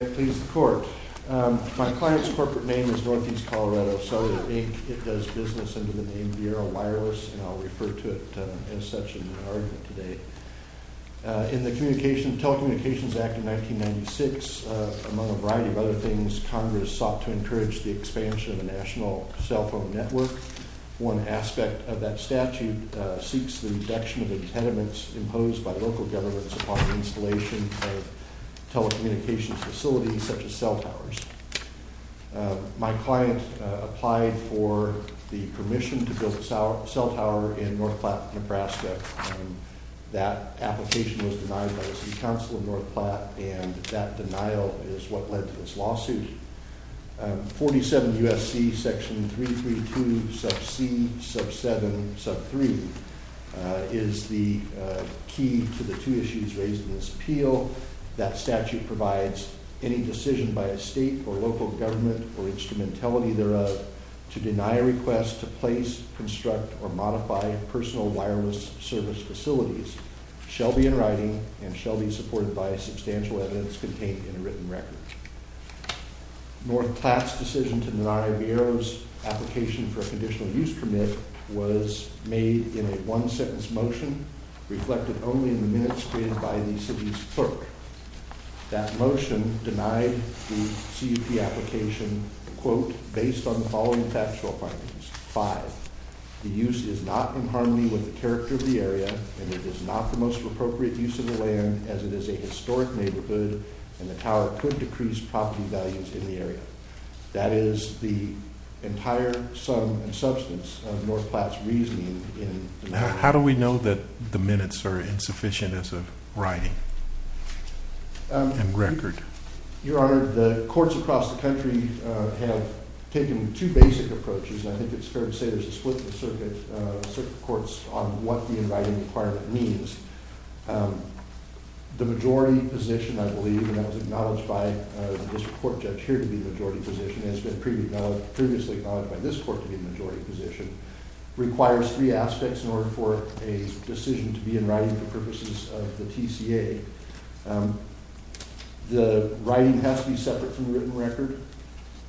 My client's corporate name is Northeast Colorado Cellular, Inc. It does business under the name Viera Wireless, and I'll refer to it as such in my argument today. In the Telecommunications Act of 1996, among a variety of other things, Congress sought to encourage the expansion of the national cell phone network. One aspect of that statute seeks the reduction of impediments imposed by local governments upon the installation of telecommunications facilities such as cell towers. My client applied for the permission to build a cell tower in North Platte, Nebraska. That application was denied by the City Council of North Platte, and that denial is what led to this lawsuit. 47 U.S.C. section 332 sub c sub 7 sub 3 is the key to the two issues raised in this appeal. That statute provides any decision by a state or local government or instrumentality thereof to deny a request to place, construct, or modify personal wireless service facilities shall be in writing and shall be supported by substantial evidence contained in a written record. North Platte's decision to deny Viera's application for a conditional use permit was made in a one-sentence motion reflected only in the minutes created by the city's clerk. That motion denied the CUP application, quote, based on the following factual findings. Five, the use is not in harmony with the character of the area, and it is not the most appropriate use of the land as it is a historic neighborhood, and the tower could decrease property values in the area. That is the entire sum and substance of North Platte's reasoning in the matter. How do we know that the minutes are insufficient as of writing and record? Your Honor, the courts across the country have taken two basic approaches, and I think it's fair to say there's a split in the circuit courts on what the in writing requirement means. The majority position, I believe, and that was acknowledged by this court judge here to be the majority position, and it's been previously acknowledged by this court to be the majority position, requires three aspects in order for a decision to be in writing for purposes of the TCA. The writing has to be separate from the written record.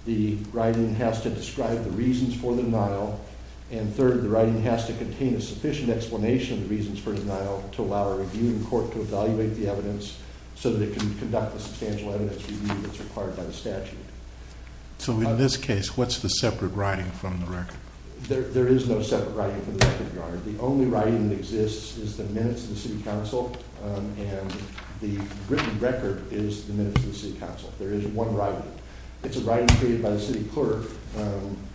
The writing has to describe the reasons for the denial, and third, the writing has to contain a sufficient explanation of the reasons for the denial to allow a review in court to evaluate the evidence so that it can conduct the substantial evidence review that's required by the statute. So in this case, what's the separate writing from the record? There is no separate writing from the record, Your Honor. The only writing that exists is the minutes of the city council, and the written record is the minutes of the city council. There is one writing. It's a writing created by the city clerk.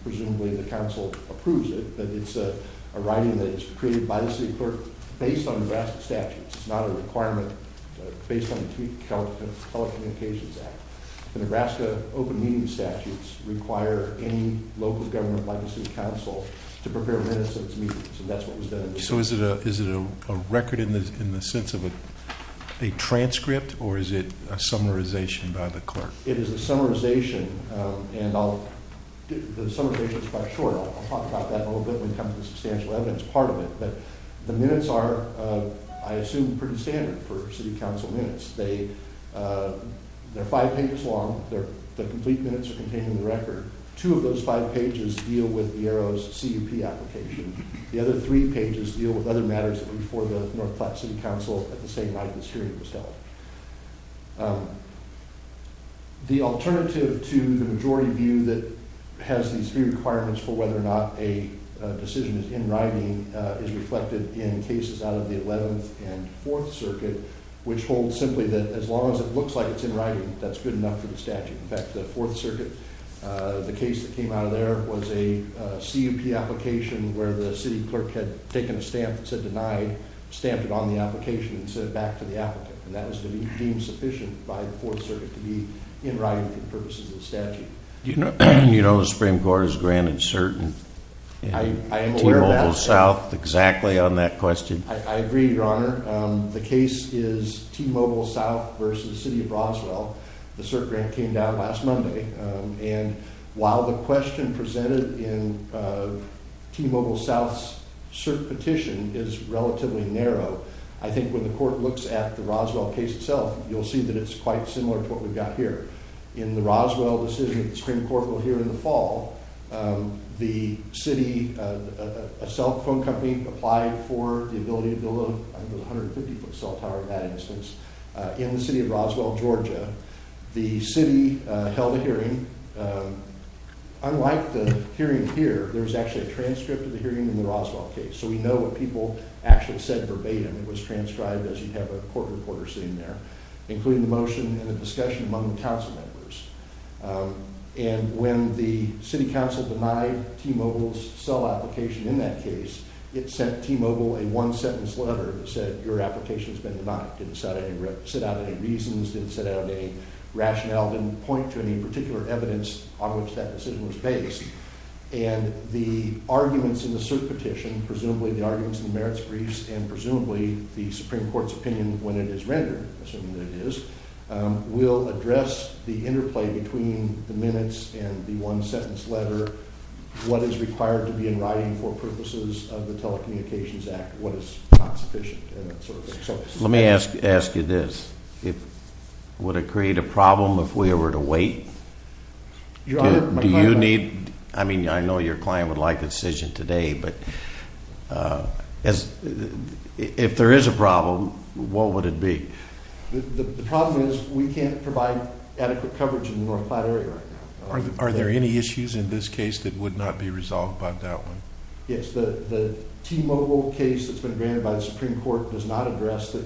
Presumably the council approves it, but it's a writing that's created by the city clerk based on Nebraska statutes. It's not a requirement based on the Telecommunications Act. The Nebraska Open Meeting Statutes require any local government like the city council to prepare minutes of its meetings, and that's what was done in this case. Okay, so is it a record in the sense of a transcript, or is it a summarization by the clerk? It is a summarization, and the summarization is quite short. I'll talk about that in a little bit when it comes to the substantial evidence part of it, but the minutes are, I assume, pretty standard for city council minutes. They're five pages long. The complete minutes are contained in the record. Two of those five pages deal with the ERO's CUP application. The other three pages deal with other matters before the North Platte City Council at the same night this hearing was held. The alternative to the majority view that has these three requirements for whether or not a decision is in writing is reflected in cases out of the 11th and 4th Circuit, which holds simply that as long as it looks like it's in writing, that's good enough for the statute. In fact, the 4th Circuit, the case that came out of there was a CUP application where the city clerk had taken a stamp that said denied, stamped it on the application, and sent it back to the applicant, and that was deemed sufficient by the 4th Circuit to be in writing for the purposes of the statute. Do you know the Supreme Court has granted certain T-Mobile South exactly on that question? I agree, Your Honor. The case is T-Mobile South versus the City of Roswell. The cert grant came down last Monday, and while the question presented in T-Mobile South's cert petition is relatively narrow, I think when the court looks at the Roswell case itself, you'll see that it's quite similar to what we've got here. In the Roswell decision that the Supreme Court will hear in the fall, a cell phone company applied for the ability to build a 150-foot cell tower in that instance. In the City of Roswell, Georgia, the city held a hearing. Unlike the hearing here, there was actually a transcript of the hearing in the Roswell case, so we know what people actually said verbatim. It was transcribed as you'd have a court reporter sitting there, including the motion and the discussion among the council members. And when the city council denied T-Mobile's cell application in that case, it sent T-Mobile a one-sentence letter that said, Your application has been denied. It didn't set out any reasons, didn't set out any rationale, didn't point to any particular evidence on which that decision was based. And the arguments in the cert petition, presumably the arguments in the merits briefs, and presumably the Supreme Court's opinion when it is rendered, assuming that it is, will address the interplay between the minutes and the one-sentence letter, what is required to be in writing for purposes of the Telecommunications Act, what is not sufficient. Let me ask you this. Would it create a problem if we were to wait? Your Honor, my client... Do you need... I mean, I know your client would like a decision today, but if there is a problem, what would it be? The problem is we can't provide adequate coverage in the North Platte area right now. Are there any issues in this case that would not be resolved by that one? Yes, the T-Mobile case that's been granted by the Supreme Court does not address the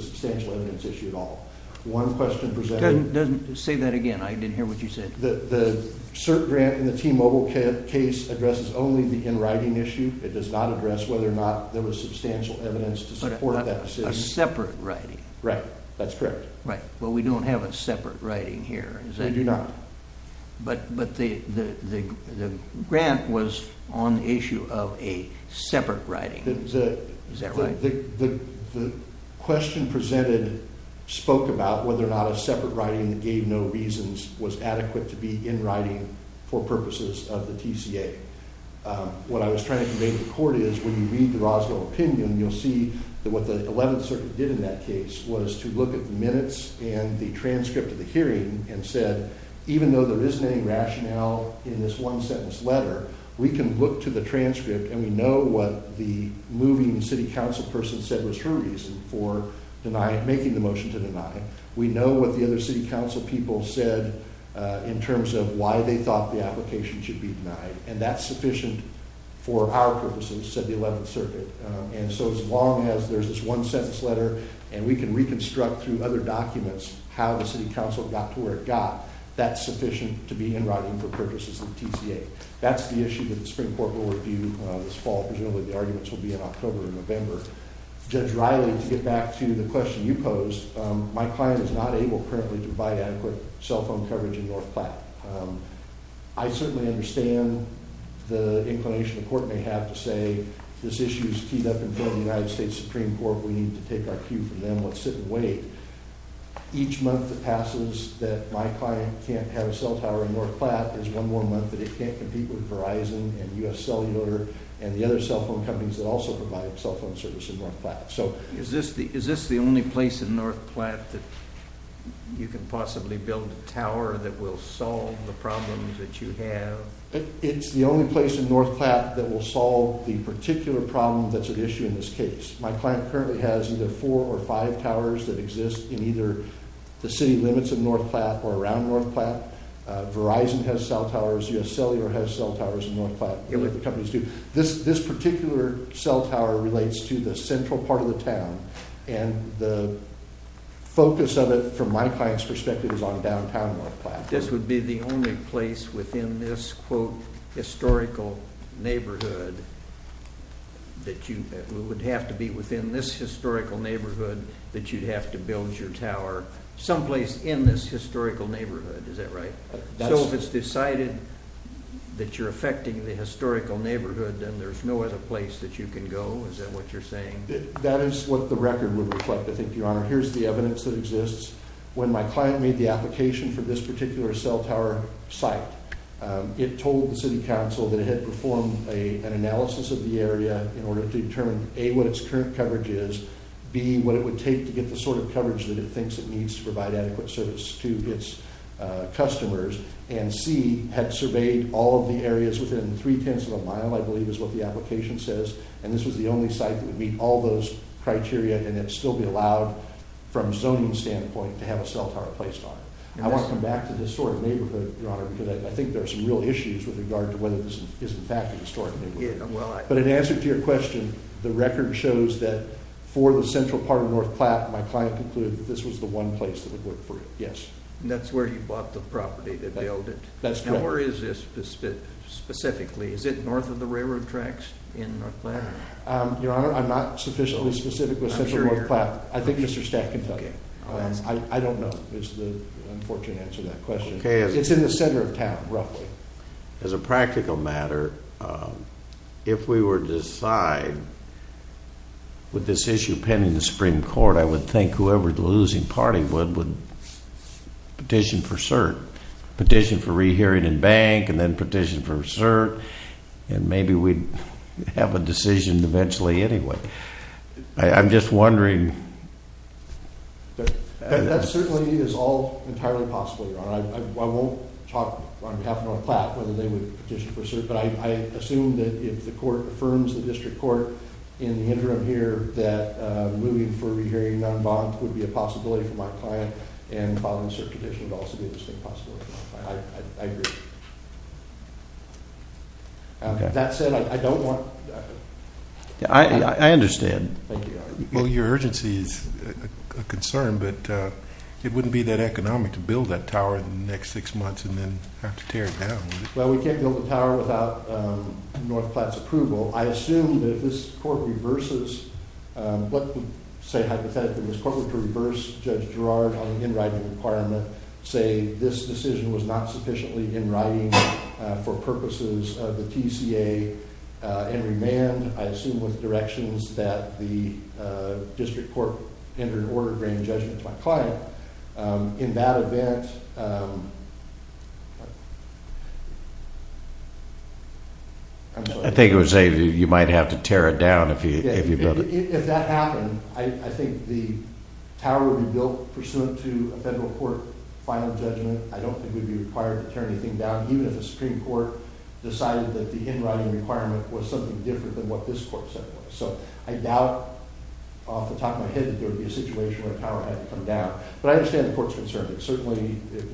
substantial evidence issue at all. One question presented... Say that again. I didn't hear what you said. The cert grant in the T-Mobile case addresses only the in-writing issue. It does not address whether or not there was substantial evidence to support that decision. A separate writing. Right. That's correct. Right. Well, we don't have a separate writing here. We do not. But the grant was on the issue of a separate writing. Is that right? The question presented spoke about whether or not a separate writing that gave no reasons was adequate to be in writing for purposes of the TCA. What I was trying to convey to the Court is when you read the Roswell opinion, you'll see that what the Eleventh Circuit did in that case was to look at the minutes and the transcript of the hearing and said, even though there isn't any rationale in this one-sentence letter, we can look to the transcript and we know what the moving City Council person said was her reason for making the motion to deny. We know what the other City Council people said in terms of why they thought the application should be denied. And that's sufficient for our purposes, said the Eleventh Circuit. And so as long as there's this one-sentence letter and we can reconstruct through other documents how the City Council got to where it got, that's sufficient to be in writing for purposes of the TCA. That's the issue that the Supreme Court will review this fall. Presumably the arguments will be in October or November. Judge Riley, to get back to the question you posed, my client is not able currently to provide adequate cell phone coverage in North Platte. I certainly understand the inclination the Court may have to say, this issue is keyed up in front of the United States Supreme Court. We need to take our cue from them. Let's sit and wait. Each month that passes that my client can't have a cell tower in North Platte is one more month that it can't compete with Verizon and U.S. Cellular and the other cell phone companies that also provide cell phone service in North Platte. Is this the only place in North Platte that you can possibly build a tower that will solve the problems that you have? It's the only place in North Platte that will solve the particular problem that's at issue in this case. My client currently has either four or five towers that exist in either the city limits of North Platte or around North Platte. Verizon has cell towers. U.S. Cellular has cell towers in North Platte. This particular cell tower relates to the central part of the town and the focus of it from my client's perspective is on downtown North Platte. This would be the only place within this quote historical neighborhood that you would have to be within this historical neighborhood that you'd have to build your tower someplace in this historical neighborhood, is that right? So if it's decided that you're affecting the historical neighborhood then there's no other place that you can go, is that what you're saying? That is what the record would reflect, I think, your honor. Here's the evidence that exists. When my client made the application for this particular cell tower site it told the city council that it had performed an analysis of the area in order to determine A, what its current coverage is, B, what it would take to get the sort of coverage that it thinks it needs to provide adequate service to its customers, and C, had surveyed all of the areas within three-tenths of a mile, I believe is what the application says, and this was the only site that would meet all those criteria and then still be allowed, from a zoning standpoint, to have a cell tower placed on it. I want to come back to the historic neighborhood, your honor, because I think there are some real issues with regard to whether this is in fact a historic neighborhood. But in answer to your question, the record shows that for the central part of North Platte, my client concluded that this was the one place that would work for it, yes. And that's where you bought the property that built it? That's correct. Now where is this specifically? Is it north of the railroad tracks in North Platte? Your honor, I'm not sufficiently specific with central North Platte. I think Mr. Stack can tell you. I don't know is the unfortunate answer to that question. It's in the center of town, roughly. As a practical matter, if we were to decide with this issue pending the Supreme Court, I would think whoever the losing party would petition for cert, petition for rehearing and bank, and then petition for cert, and maybe we'd have a decision eventually anyway. I'm just wondering. That certainly is all entirely possible, your honor. I won't talk on behalf of North Platte whether they would petition for cert, but I assume that if the court affirms the district court in the interim here, that moving for rehearing non-bond would be a possibility for my client, and following cert petition would also be an interesting possibility for my client. I agree. That said, I don't want that. I understand. Well, your urgency is a concern, but it wouldn't be that economic to build that tower in the next six months and then have to tear it down, would it? Well, we can't build the tower without North Platte's approval. I assume that if this court reverses, let's say hypothetically this court were to reverse Judge Girard on the in-writing requirement, say this decision was not sufficiently in-writing for purposes of the TCA and remand, I assume with directions that the district court, under an order, bring judgment to my client. In that event... I think it would say you might have to tear it down if you build it. If that happened, I think the tower would be built pursuant to a federal court final judgment. I don't think we'd be required to tear anything down, even if the Supreme Court decided that the in-writing requirement was something different than what this court said it was. So I doubt off the top of my head that there would be a situation where the tower had to come down. But I understand the court's concern. Certainly,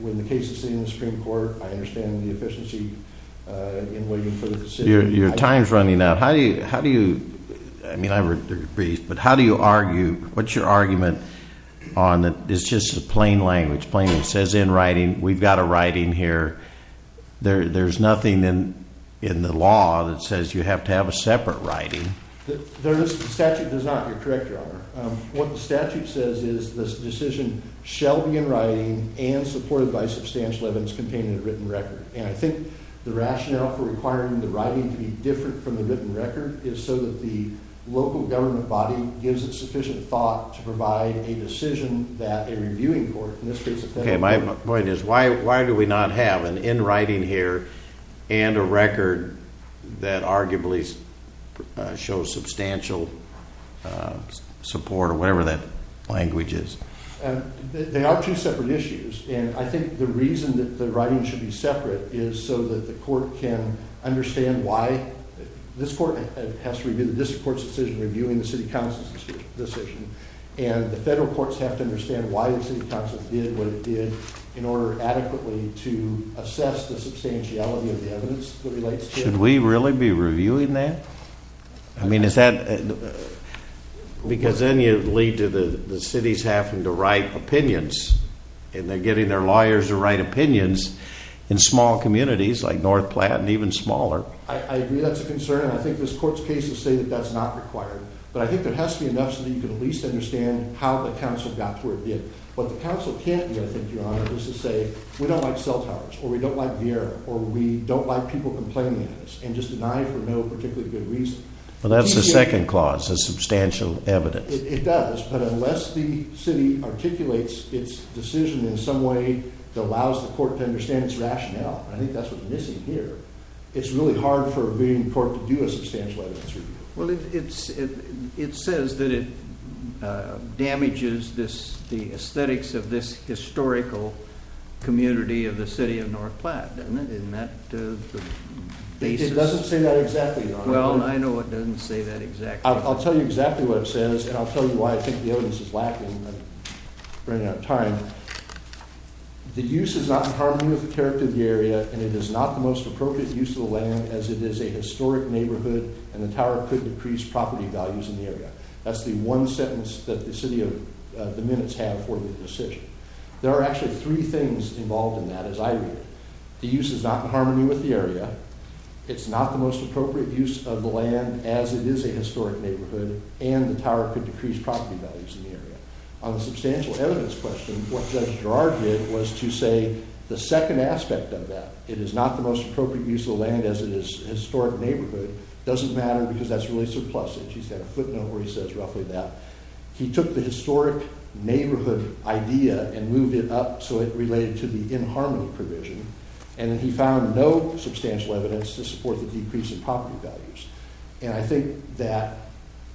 when the case is sitting in the Supreme Court, I understand the efficiency in waiting for the decision. Your time's running out. How do you... I mean, I've heard your brief, but how do you argue? What's your argument on... It's just plain language, plain language. We've got a writing here. There's nothing in the law that says you have to have a separate writing. The statute does not. You're correct, Your Honor. What the statute says is this decision shall be in writing and supported by substantial evidence containing a written record. And I think the rationale for requiring the writing to be different from the written record is so that the local government body gives it sufficient thought to provide a decision that a reviewing court, in this case, a federal court... Okay, my point is, why do we not have an in-writing here and a record that arguably shows substantial support or whatever that language is? They are two separate issues. And I think the reason that the writing should be separate is so that the court can understand why. This court has to review the district court's decision reviewing the city council's decision. And the federal courts have to understand why the city council did what it did in order adequately to assess the substantiality of the evidence that relates to it. Should we really be reviewing that? I mean, is that... Because then you lead to the cities having to write opinions. And they're getting their lawyers to write opinions in small communities like North Platte and even smaller. I agree that's a concern, and I think this court's cases say that that's not required. But I think there has to be enough so that you can at least understand how the council got to where it did. What the council can't do, I think, Your Honor, is to say, we don't like cell towers, or we don't like beer, or we don't like people complaining at us, and just deny for no particularly good reason. Well, that's the second clause, the substantial evidence. It does, but unless the city articulates its decision in some way that allows the court to understand its rationale, and I think that's what's missing here, it's really hard for a reviewing court to do a substantial evidence review. Well, it says that it damages the aesthetics of this historical community of the city of North Platte, doesn't it? It doesn't say that exactly, Your Honor. Well, I know it doesn't say that exactly. I'll tell you exactly what it says, and I'll tell you why I think the evidence is lacking. I'm running out of time. The use is not in harmony with the character of the area, and it is not the most appropriate use of the land as it is a historic neighborhood, and the tower could decrease property values in the area. That's the one sentence that the minutes have for the decision. There are actually three things involved in that, as I read it. The use is not in harmony with the area, it's not the most appropriate use of the land as it is a historic neighborhood, and the tower could decrease property values in the area. On the substantial evidence question, what Judge Gerard did was to say the second aspect of that, it is not the most appropriate use of the land as it is a historic neighborhood, doesn't matter because that's really surplusage. He's got a footnote where he says roughly that. He took the historic neighborhood idea and moved it up so it related to the in harmony provision, and then he found no substantial evidence to support the decrease in property values. And I think that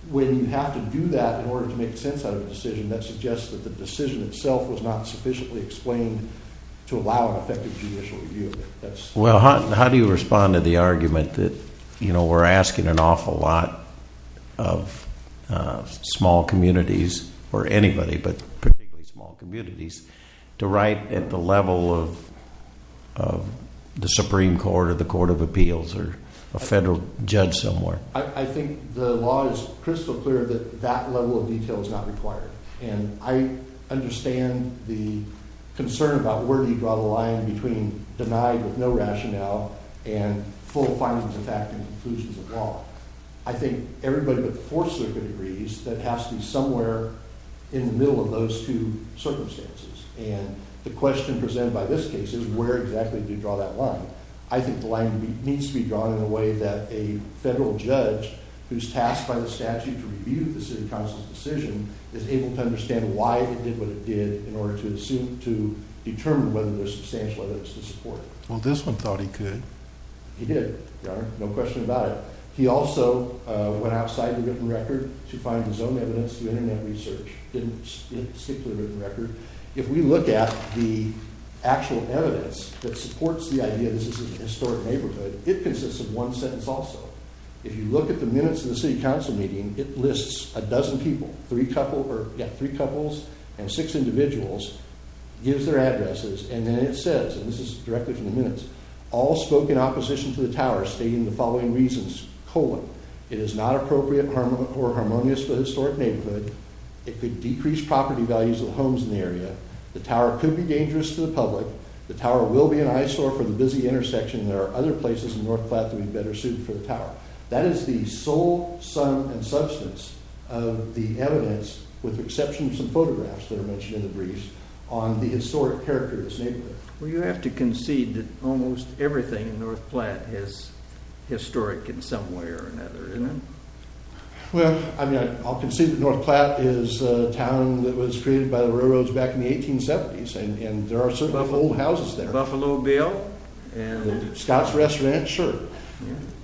when you have to do that in order to make sense out of a decision, that suggests that the decision itself was not sufficiently explained to allow an effective judicial review. Well, how do you respond to the argument that we're asking an awful lot of small communities, or anybody but particularly small communities, to write at the level of the Supreme Court or the Court of Appeals or a federal judge somewhere? I think the law is crystal clear that that level of detail is not required. And I understand the concern about where do you draw the line between denied with no rationale and full findings of fact and conclusions of law. I think everybody but the Fourth Circuit agrees that it has to be somewhere in the middle of those two circumstances. And the question presented by this case is where exactly do you draw that line? I think the line needs to be drawn in a way that a federal judge who's tasked by the statute to review the City Council's decision is able to understand why it did what it did in order to determine whether there's substantial evidence to support it. Well, this one thought he could. He did. There's no question about it. He also went outside the written record to find his own evidence. The Internet research didn't stick to the written record. If we look at the actual evidence that supports the idea that this is a historic neighborhood, it consists of one sentence also. If you look at the minutes of the City Council meeting, it lists a dozen people, three couples and six individuals, gives their addresses, and then it says, and this is directly from the minutes, all spoke in opposition to the tower stating the following reasons, colon, it is not appropriate or harmonious for the historic neighborhood, it could decrease property values of the homes in the area, the tower could be dangerous to the public, the tower will be an eyesore for the busy intersection, there are other places in North Platte that would be better suited for the tower. That is the sole sum and substance of the evidence, with the exception of some photographs that are mentioned in the briefs, on the historic character of this neighborhood. Well, you have to concede that almost everything in North Platte is historic in some way or another, isn't it? Well, I'll concede that North Platte is a town that was created by the railroads back in the 1870s, and there are certain old houses there. The Buffalo Bill. Scott's Restaurant, sure.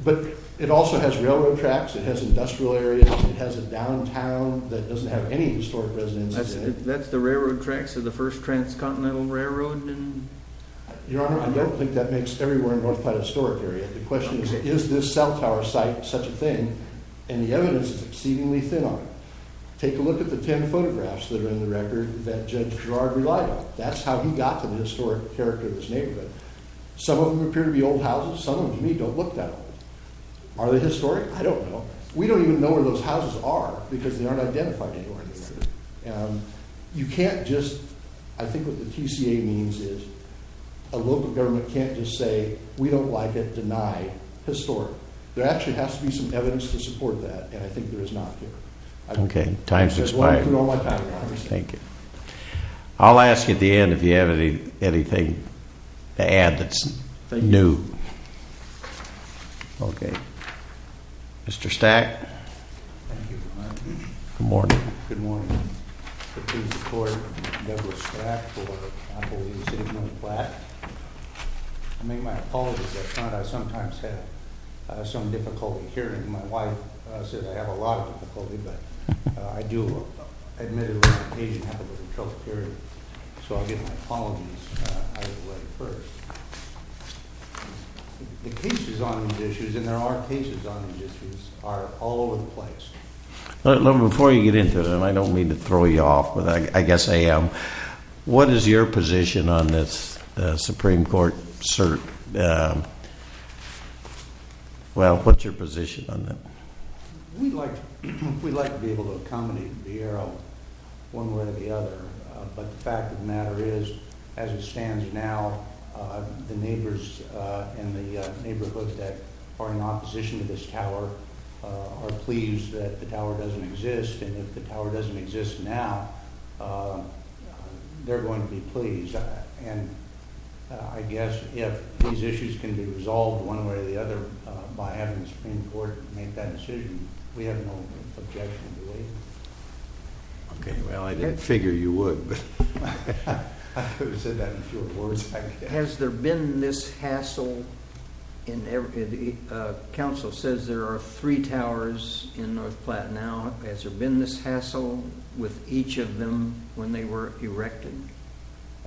But it also has railroad tracks, it has industrial areas, it has a downtown that doesn't have any historic residences in it. That's the railroad tracks of the First Transcontinental Railroad? Your Honor, I don't think that makes every word in North Platte a historic area. The question is, is this cell tower site such a thing? And the evidence is exceedingly thin on it. Take a look at the ten photographs that are in the record that Judge Gerard relied on. That's how he got to the historic character of this neighborhood. Some of them appear to be old houses. Some of them, to me, don't look that old. Are they historic? I don't know. We don't even know where those houses are because they aren't identified anywhere. You can't just, I think what the TCA means is, a local government can't just say, we don't like it, deny historic. There actually has to be some evidence to support that, and I think there is not here. Okay, time's expired. Thank you. I'll ask you at the end if you have anything to add that's new. Okay. Mr. Stack? Thank you, Your Honor. Good morning. Good morning. I pledge to support Douglas Stratt for, I believe, the city of North Platte. I make my apologies. I sometimes have some difficulty hearing. My wife says I have a lot of difficulty, but I do admit it when I occasionally have a little trouble hearing, so I'll get my apologies out of the way first. The cases on these issues, and there are cases on these issues, are all over the place. Before you get into it, and I don't mean to throw you off, but I guess I am, what is your position on this Supreme Court cert? Well, what's your position on that? We'd like to be able to accommodate the arrow one way or the other, but the fact of the matter is, as it stands now, the neighbors in the neighborhood that are in opposition to this tower are pleased that the tower doesn't exist, and if the tower doesn't exist now, they're going to be pleased. I guess if these issues can be resolved one way or the other by having the Supreme Court make that decision, we have no objection to delaying it. Okay, well, I didn't figure you would, but I would have said that in fewer words. Has there been this hassle? Council says there are three towers in North Platte now. Has there been this hassle with each of them when they were erected?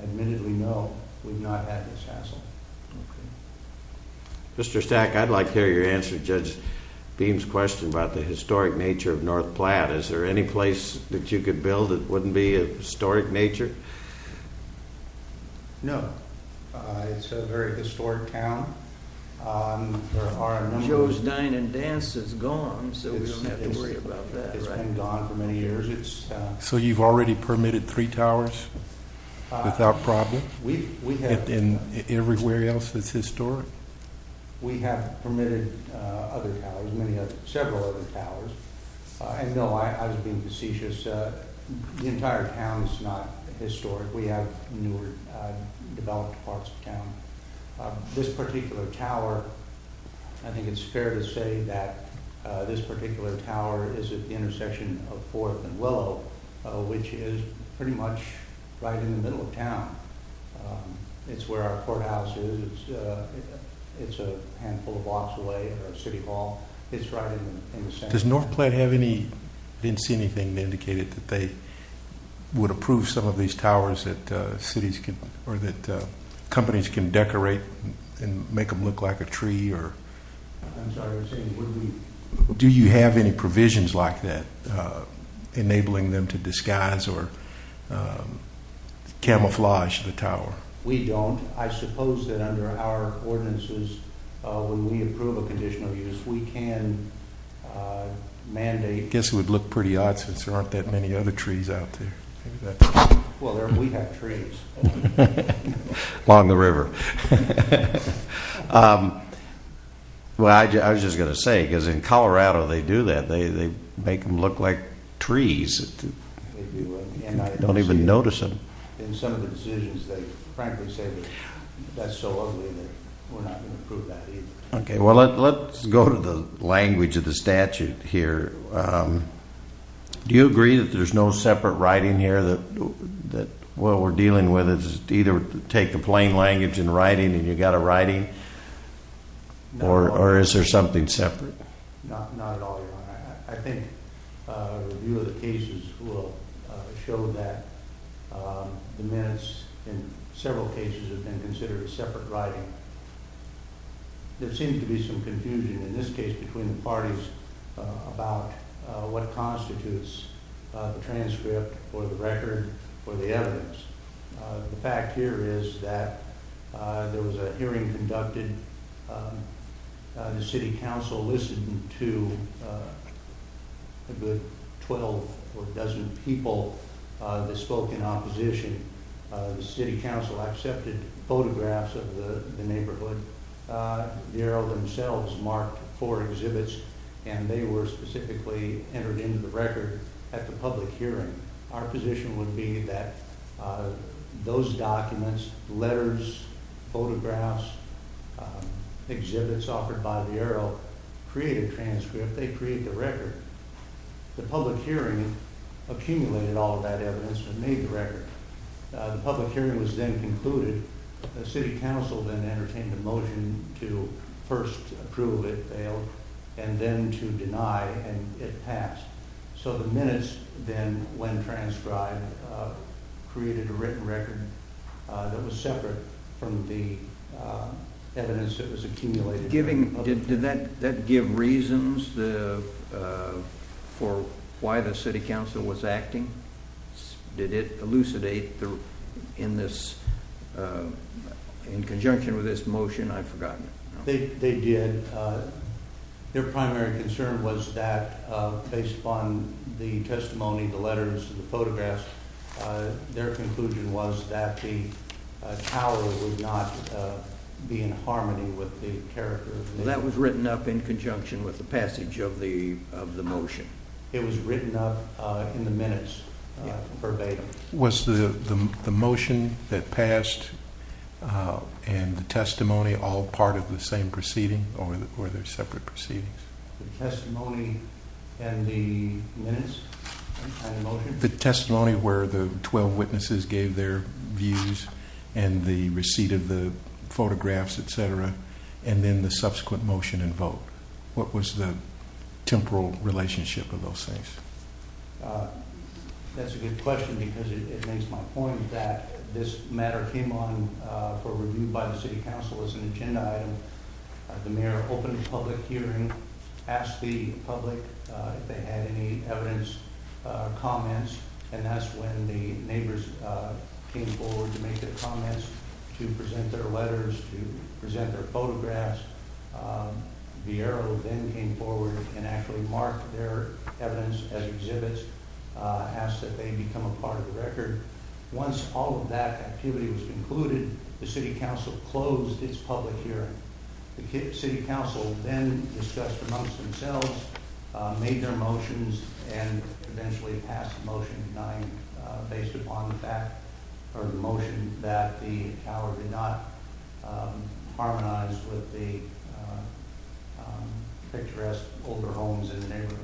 Admittedly, no, we've not had this hassle. Mr. Stack, I'd like to hear your answer to Judge Beam's question about the historic nature of North Platte. Is there any place that you could build that wouldn't be of historic nature? No. It's a very historic town. Joe's Dine and Dance is gone, so we don't have to worry about that, right? It's been gone for many years. So you've already permitted three towers without problem? And everywhere else it's historic? We have permitted other towers, several other towers. I know I was being facetious. The entire town is not historic. We have newer developed parts of town. This particular tower, I think it's fair to say that this particular tower is at the intersection of Forth and Willow, which is pretty much right in the middle of town. It's where our courthouse is. It's a handful of blocks away from City Hall. It's right in the center. I didn't see anything that indicated that they would approve some of these towers that companies can decorate and make them look like a tree. I'm sorry, I was saying do you have any provisions like that enabling them to disguise or camouflage the tower? We don't. I suppose that under our ordinances, when we approve a conditional use, we can mandate... I guess it would look pretty odd since there aren't that many other trees out there. Well, we have trees. Along the river. Well, I was just going to say, because in Colorado they do that. They make them look like trees. I don't even notice them. In some of the decisions, they frankly say that's so ugly that we're not going to approve that either. Well, let's go to the language of the statute here. Do you agree that there's no separate writing here? That what we're dealing with is either take the plain language in writing and you've got a writing, or is there something separate? Not at all, Your Honor. I think a review of the cases will show that the minutes in several cases have been considered separate writing. There seems to be some confusion in this case between the parties about what constitutes the transcript or the record or the evidence. The fact here is that there was a hearing conducted. The City Council listened to a good 12 or a dozen people that spoke in opposition. The City Council accepted photographs of the neighborhood. The arrow themselves marked four exhibits, and they were specifically entered into the record at the public hearing. Our position would be that those documents, letters, photographs, exhibits offered by the arrow create a transcript. They create the record. The public hearing accumulated all of that evidence and made the record. The public hearing was then concluded. The City Council then entertained a motion to first approve it, fail, and then to deny, and it passed. The minutes then, when transcribed, created a written record that was separate from the evidence that was accumulated. Did that give reasons for why the City Council was acting? Did it elucidate in conjunction with this motion? I've forgotten. They did. Their primary concern was that, based upon the testimony, the letters, the photographs, their conclusion was that the tower would not be in harmony with the characters. That was written up in conjunction with the passage of the motion. It was written up in the minutes, verbatim. Was the motion that passed and the testimony all part of the same proceeding, or were they separate proceedings? The testimony and the minutes? The testimony where the 12 witnesses gave their views and the receipt of the photographs, etc., and then the subsequent motion and vote. What was the temporal relationship of those things? That's a good question because it makes my point that this matter came on for review by the City Council as an agenda item. The Mayor opened a public hearing, asked the public if they had any evidence, comments, and that's when the neighbors came forward to make their comments, to present their letters, to present their photographs. Vieiro then came forward and actually marked their evidence as exhibits, asked that they become a part of the record. Once all of that activity was concluded, the City Council closed its public hearing. The City Council then discussed amongst themselves, made their motions, and eventually passed the motion denying, the picturesque older homes in the neighborhood.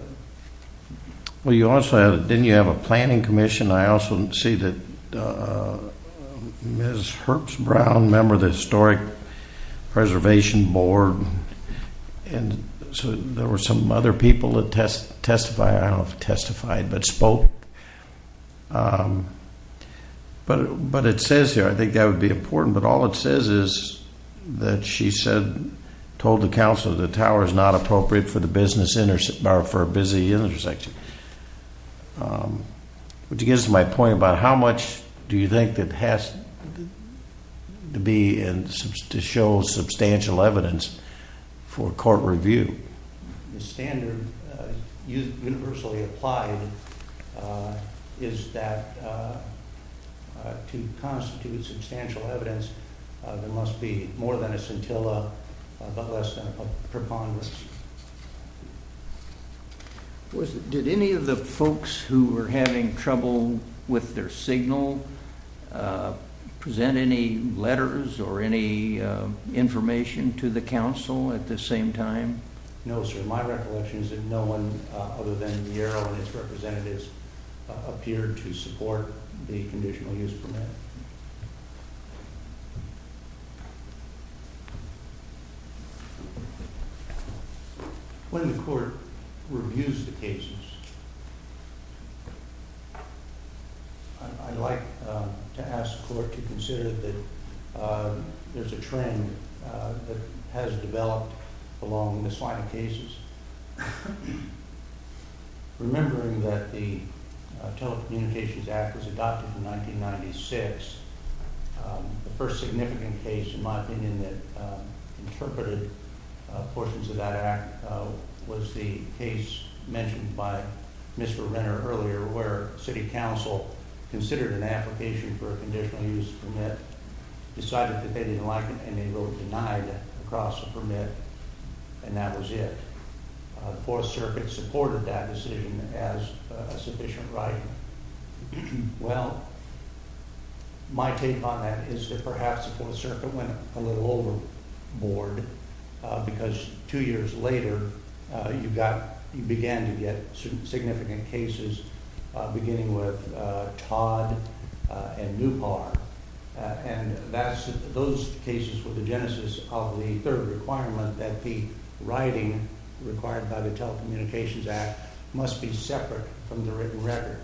Well, didn't you also have a planning commission? I also see that Ms. Herbst-Brown, member of the Historic Preservation Board, and there were some other people that testified, I don't know if they testified, but spoke. But it says here, I think that would be important, but all it says is that she said, told the Council that the tower is not appropriate for a busy intersection. Which gets to my point about how much do you think it has to be to show substantial evidence for court review? The standard universally applied is that to constitute substantial evidence, there must be more than a scintilla, but less than a preponderance. Did any of the folks who were having trouble with their signal present any letters or any information to the Council at this same time? No, sir. My recollection is that no one other than Miero and his representatives appeared to support the conditional use permit. When the court reviews the cases, I'd like to ask the court to consider that there's a trend that has developed along this line of cases. Remembering that the Telecommunications Act was adopted in 1996, the first significant case, in my opinion, that interpreted portions of that act was the case mentioned by Mr. Renner earlier, where City Council considered an application for a conditional use permit, decided that they didn't like it, and they were denied across the permit, and that was it. The Fourth Circuit supported that decision as a sufficient right. Well, my take on that is that perhaps the Fourth Circuit went a little overboard, because two years later, you began to get significant cases beginning with Todd and Newpar, and those cases were the genesis of the third requirement that the writing required by the Telecommunications Act must be separate from the written record.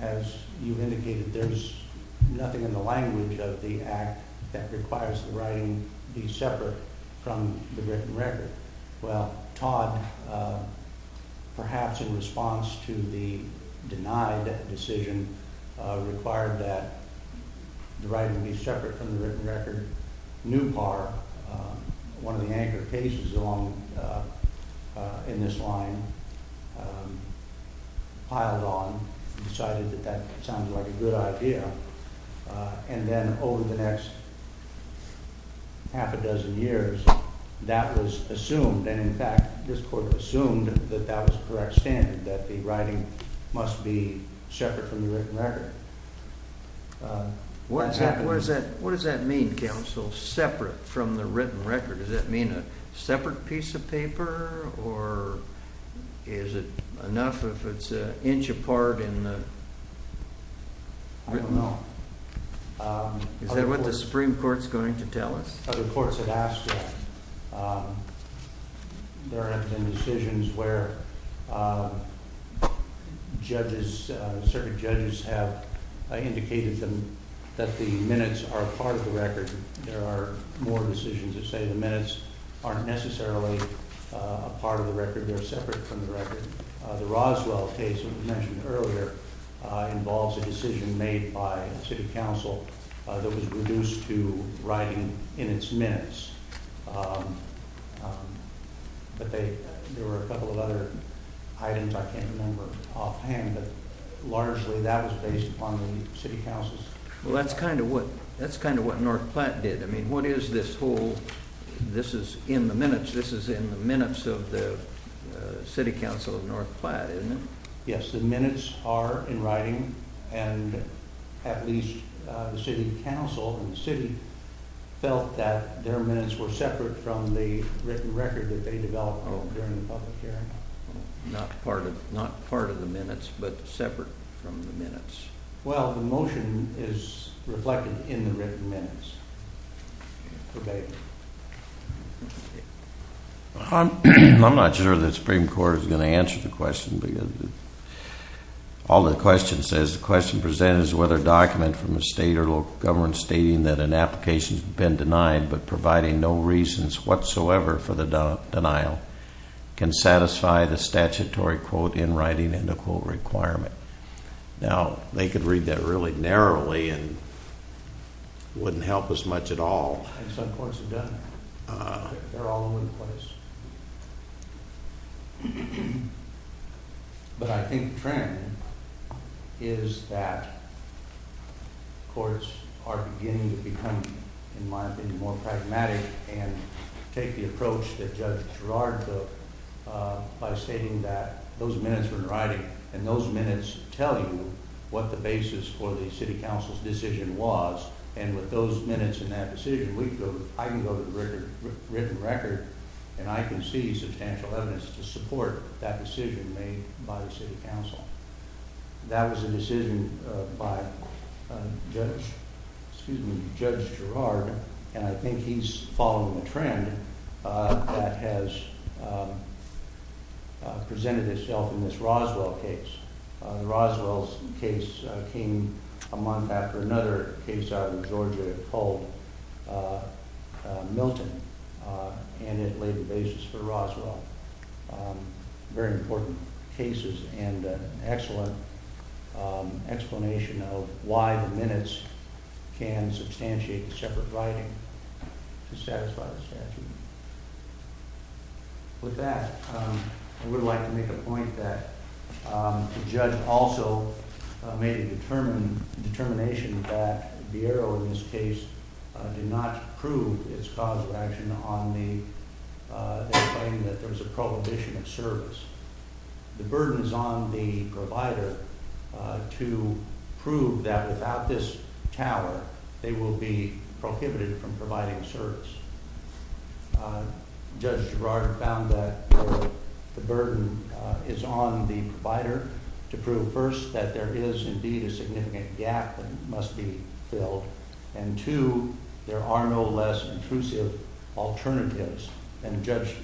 As you indicated, there's nothing in the language of the Act that requires the writing be separate from the written record. Well, Todd, perhaps in response to the denied decision, required that the writing be separate from the written record. Newpar, one of the anchor cases in this line, piled on, decided that that sounds like a good idea, and then over the next half a dozen years, that was assumed, and in fact, this Court assumed that that was the correct standard, that the writing must be separate from the written record. What does that mean, counsel, separate from the written record? Does that mean a separate piece of paper, or is it enough if it's an inch apart in the written law? I don't know. Is that what the Supreme Court's going to tell us? Other courts have asked that. There have been decisions where judges, certain judges have indicated that the minutes are part of the record. There are more decisions that say the minutes aren't necessarily a part of the record, they're separate from the record. The Roswell case that was mentioned earlier involves a decision made by the City Council that was reduced to writing in its minutes. There were a couple of other items I can't remember offhand, but largely that was based upon the City Council's decision. Well, that's kind of what North Platte did. What is this whole, this is in the minutes, this is in the minutes of the City Council of North Platte, isn't it? Yes, the minutes are in writing, and at least the City Council and the City felt that their minutes were separate from the written record that they developed during the public hearing. Not part of the minutes, but separate from the minutes. Well, the motion is reflected in the written minutes. I'm not sure the Supreme Court is going to answer the question. All the question says, the question presented is whether a document from the state or local government stating that an application has been denied, but providing no reasons whatsoever for the denial, can satisfy the statutory quote-in-writing end of quote requirement. Now, they could read that really narrowly and it wouldn't help us much at all. Some courts have done that. They're all over the place. But I think the trend is that courts are beginning to become, in my opinion, more pragmatic and take the approach that Judge Gerrard took by stating that those minutes were in writing, and those minutes tell you what the basis for the City Council's decision was, and with those minutes in that decision, I can go to the written record and I can see substantial evidence to support that decision made by the City Council. That was a decision by Judge Gerrard, and I think he's following a trend that has presented itself in this Roswell case. The Roswell case came a month after another case out in Georgia called Milton, and it laid the basis for Roswell. Very important cases and excellent explanation of why the minutes can substantiate the separate writing to satisfy the statute. With that, I would like to make a point that the judge also made a determination that Vieiro, in this case, did not prove its cause of action on the claim that there's a prohibition of service. The burden is on the provider to prove that without this tower, they will be prohibited from providing service. Judge Gerrard found that the burden is on the provider to prove, first, that there is indeed a significant gap that must be filled, and two, there are no less intrusive alternatives. Judge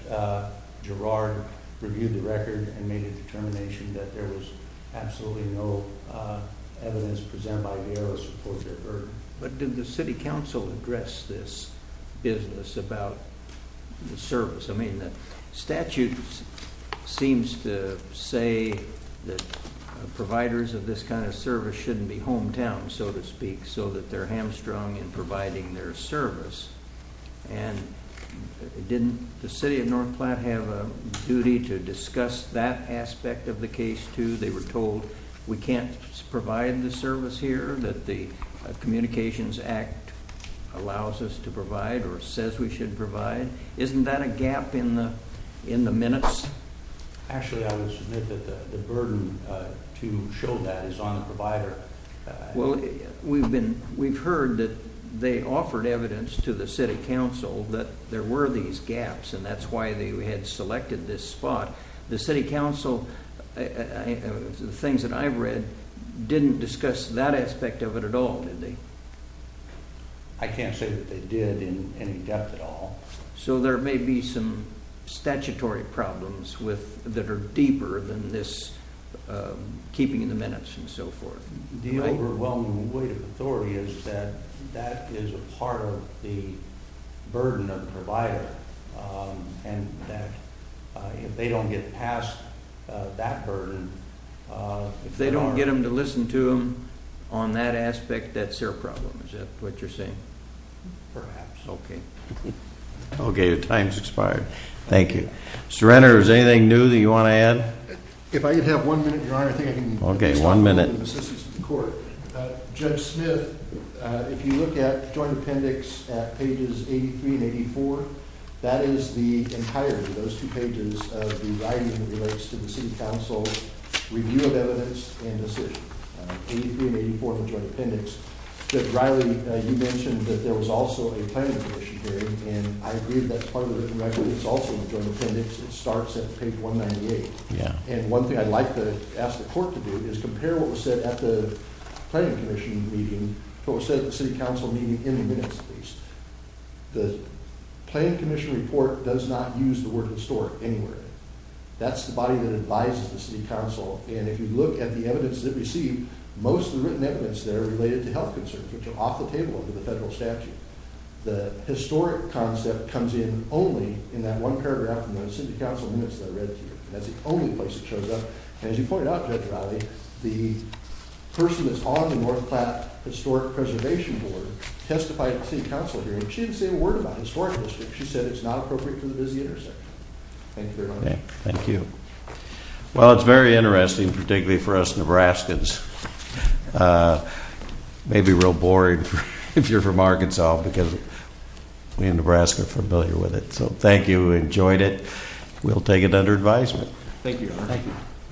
Gerrard reviewed the record and made a determination that there was absolutely no evidence presented by Vieiro to support their burden. But did the City Council address this business about the service? I mean, the statute seems to say that providers of this kind of service shouldn't be hometown, so to speak, so that they're hamstrung in providing their service. And didn't the City of North Platte have a duty to discuss that aspect of the case, too? They were told, we can't provide the service here that the Communications Act allows us to provide or says we should provide. Isn't that a gap in the minutes? Actually, I would submit that the burden to show that is on the provider. Well, we've heard that they offered evidence to the City Council that there were these gaps, and that's why they had selected this spot. The City Council, the things that I've read, didn't discuss that aspect of it at all, did they? I can't say that they did in any depth at all. So there may be some statutory problems that are deeper than this keeping in the minutes and so forth. The overwhelming weight of authority is that that is a part of the burden of the provider, and that if they don't get past that burden, if they don't get them to listen to them on that aspect, that's their problem. Is that what you're saying? Perhaps. Okay. Okay, your time's expired. Thank you. Mr. Renner, is there anything new that you want to add? If I could have one minute, Your Honor, I think I can... Okay, one minute. Judge Smith, if you look at Joint Appendix at pages 83 and 84, that is the entirety, those two pages, of the writing that relates to the City Council's review of evidence and decision. 83 and 84 of the Joint Appendix. Judge Riley, you mentioned that there was also a planning commission hearing, and I agree that that's part of the written record. It's also in the Joint Appendix. It starts at page 198. Yeah. And one thing I'd like to ask the Court to do is compare what was said at the planning commission meeting to what was said at the City Council meeting in the minutes, at least. The planning commission report does not use the word historic anywhere. That's the body that advises the City Council, and if you look at the evidence that we see, most of the written evidence there are related to health concerns, which are off the table under the federal statute. The historic concept comes in only in that one paragraph in the City Council minutes that I read to you. That's the only place it shows up, and as you pointed out, Judge Riley, the person that's on the North Platte Historic Preservation Board testified at the City Council hearing. She didn't say a word about historic history. She said it's not appropriate for the busy intersection. Thank you very much. Thank you. Well, it's very interesting, particularly for us Nebraskans. It may be real boring if you're from Arkansas because we in Nebraska are familiar with it. So thank you. We enjoyed it. We'll take it under advisement. Thank you, Your Honor. Thank you.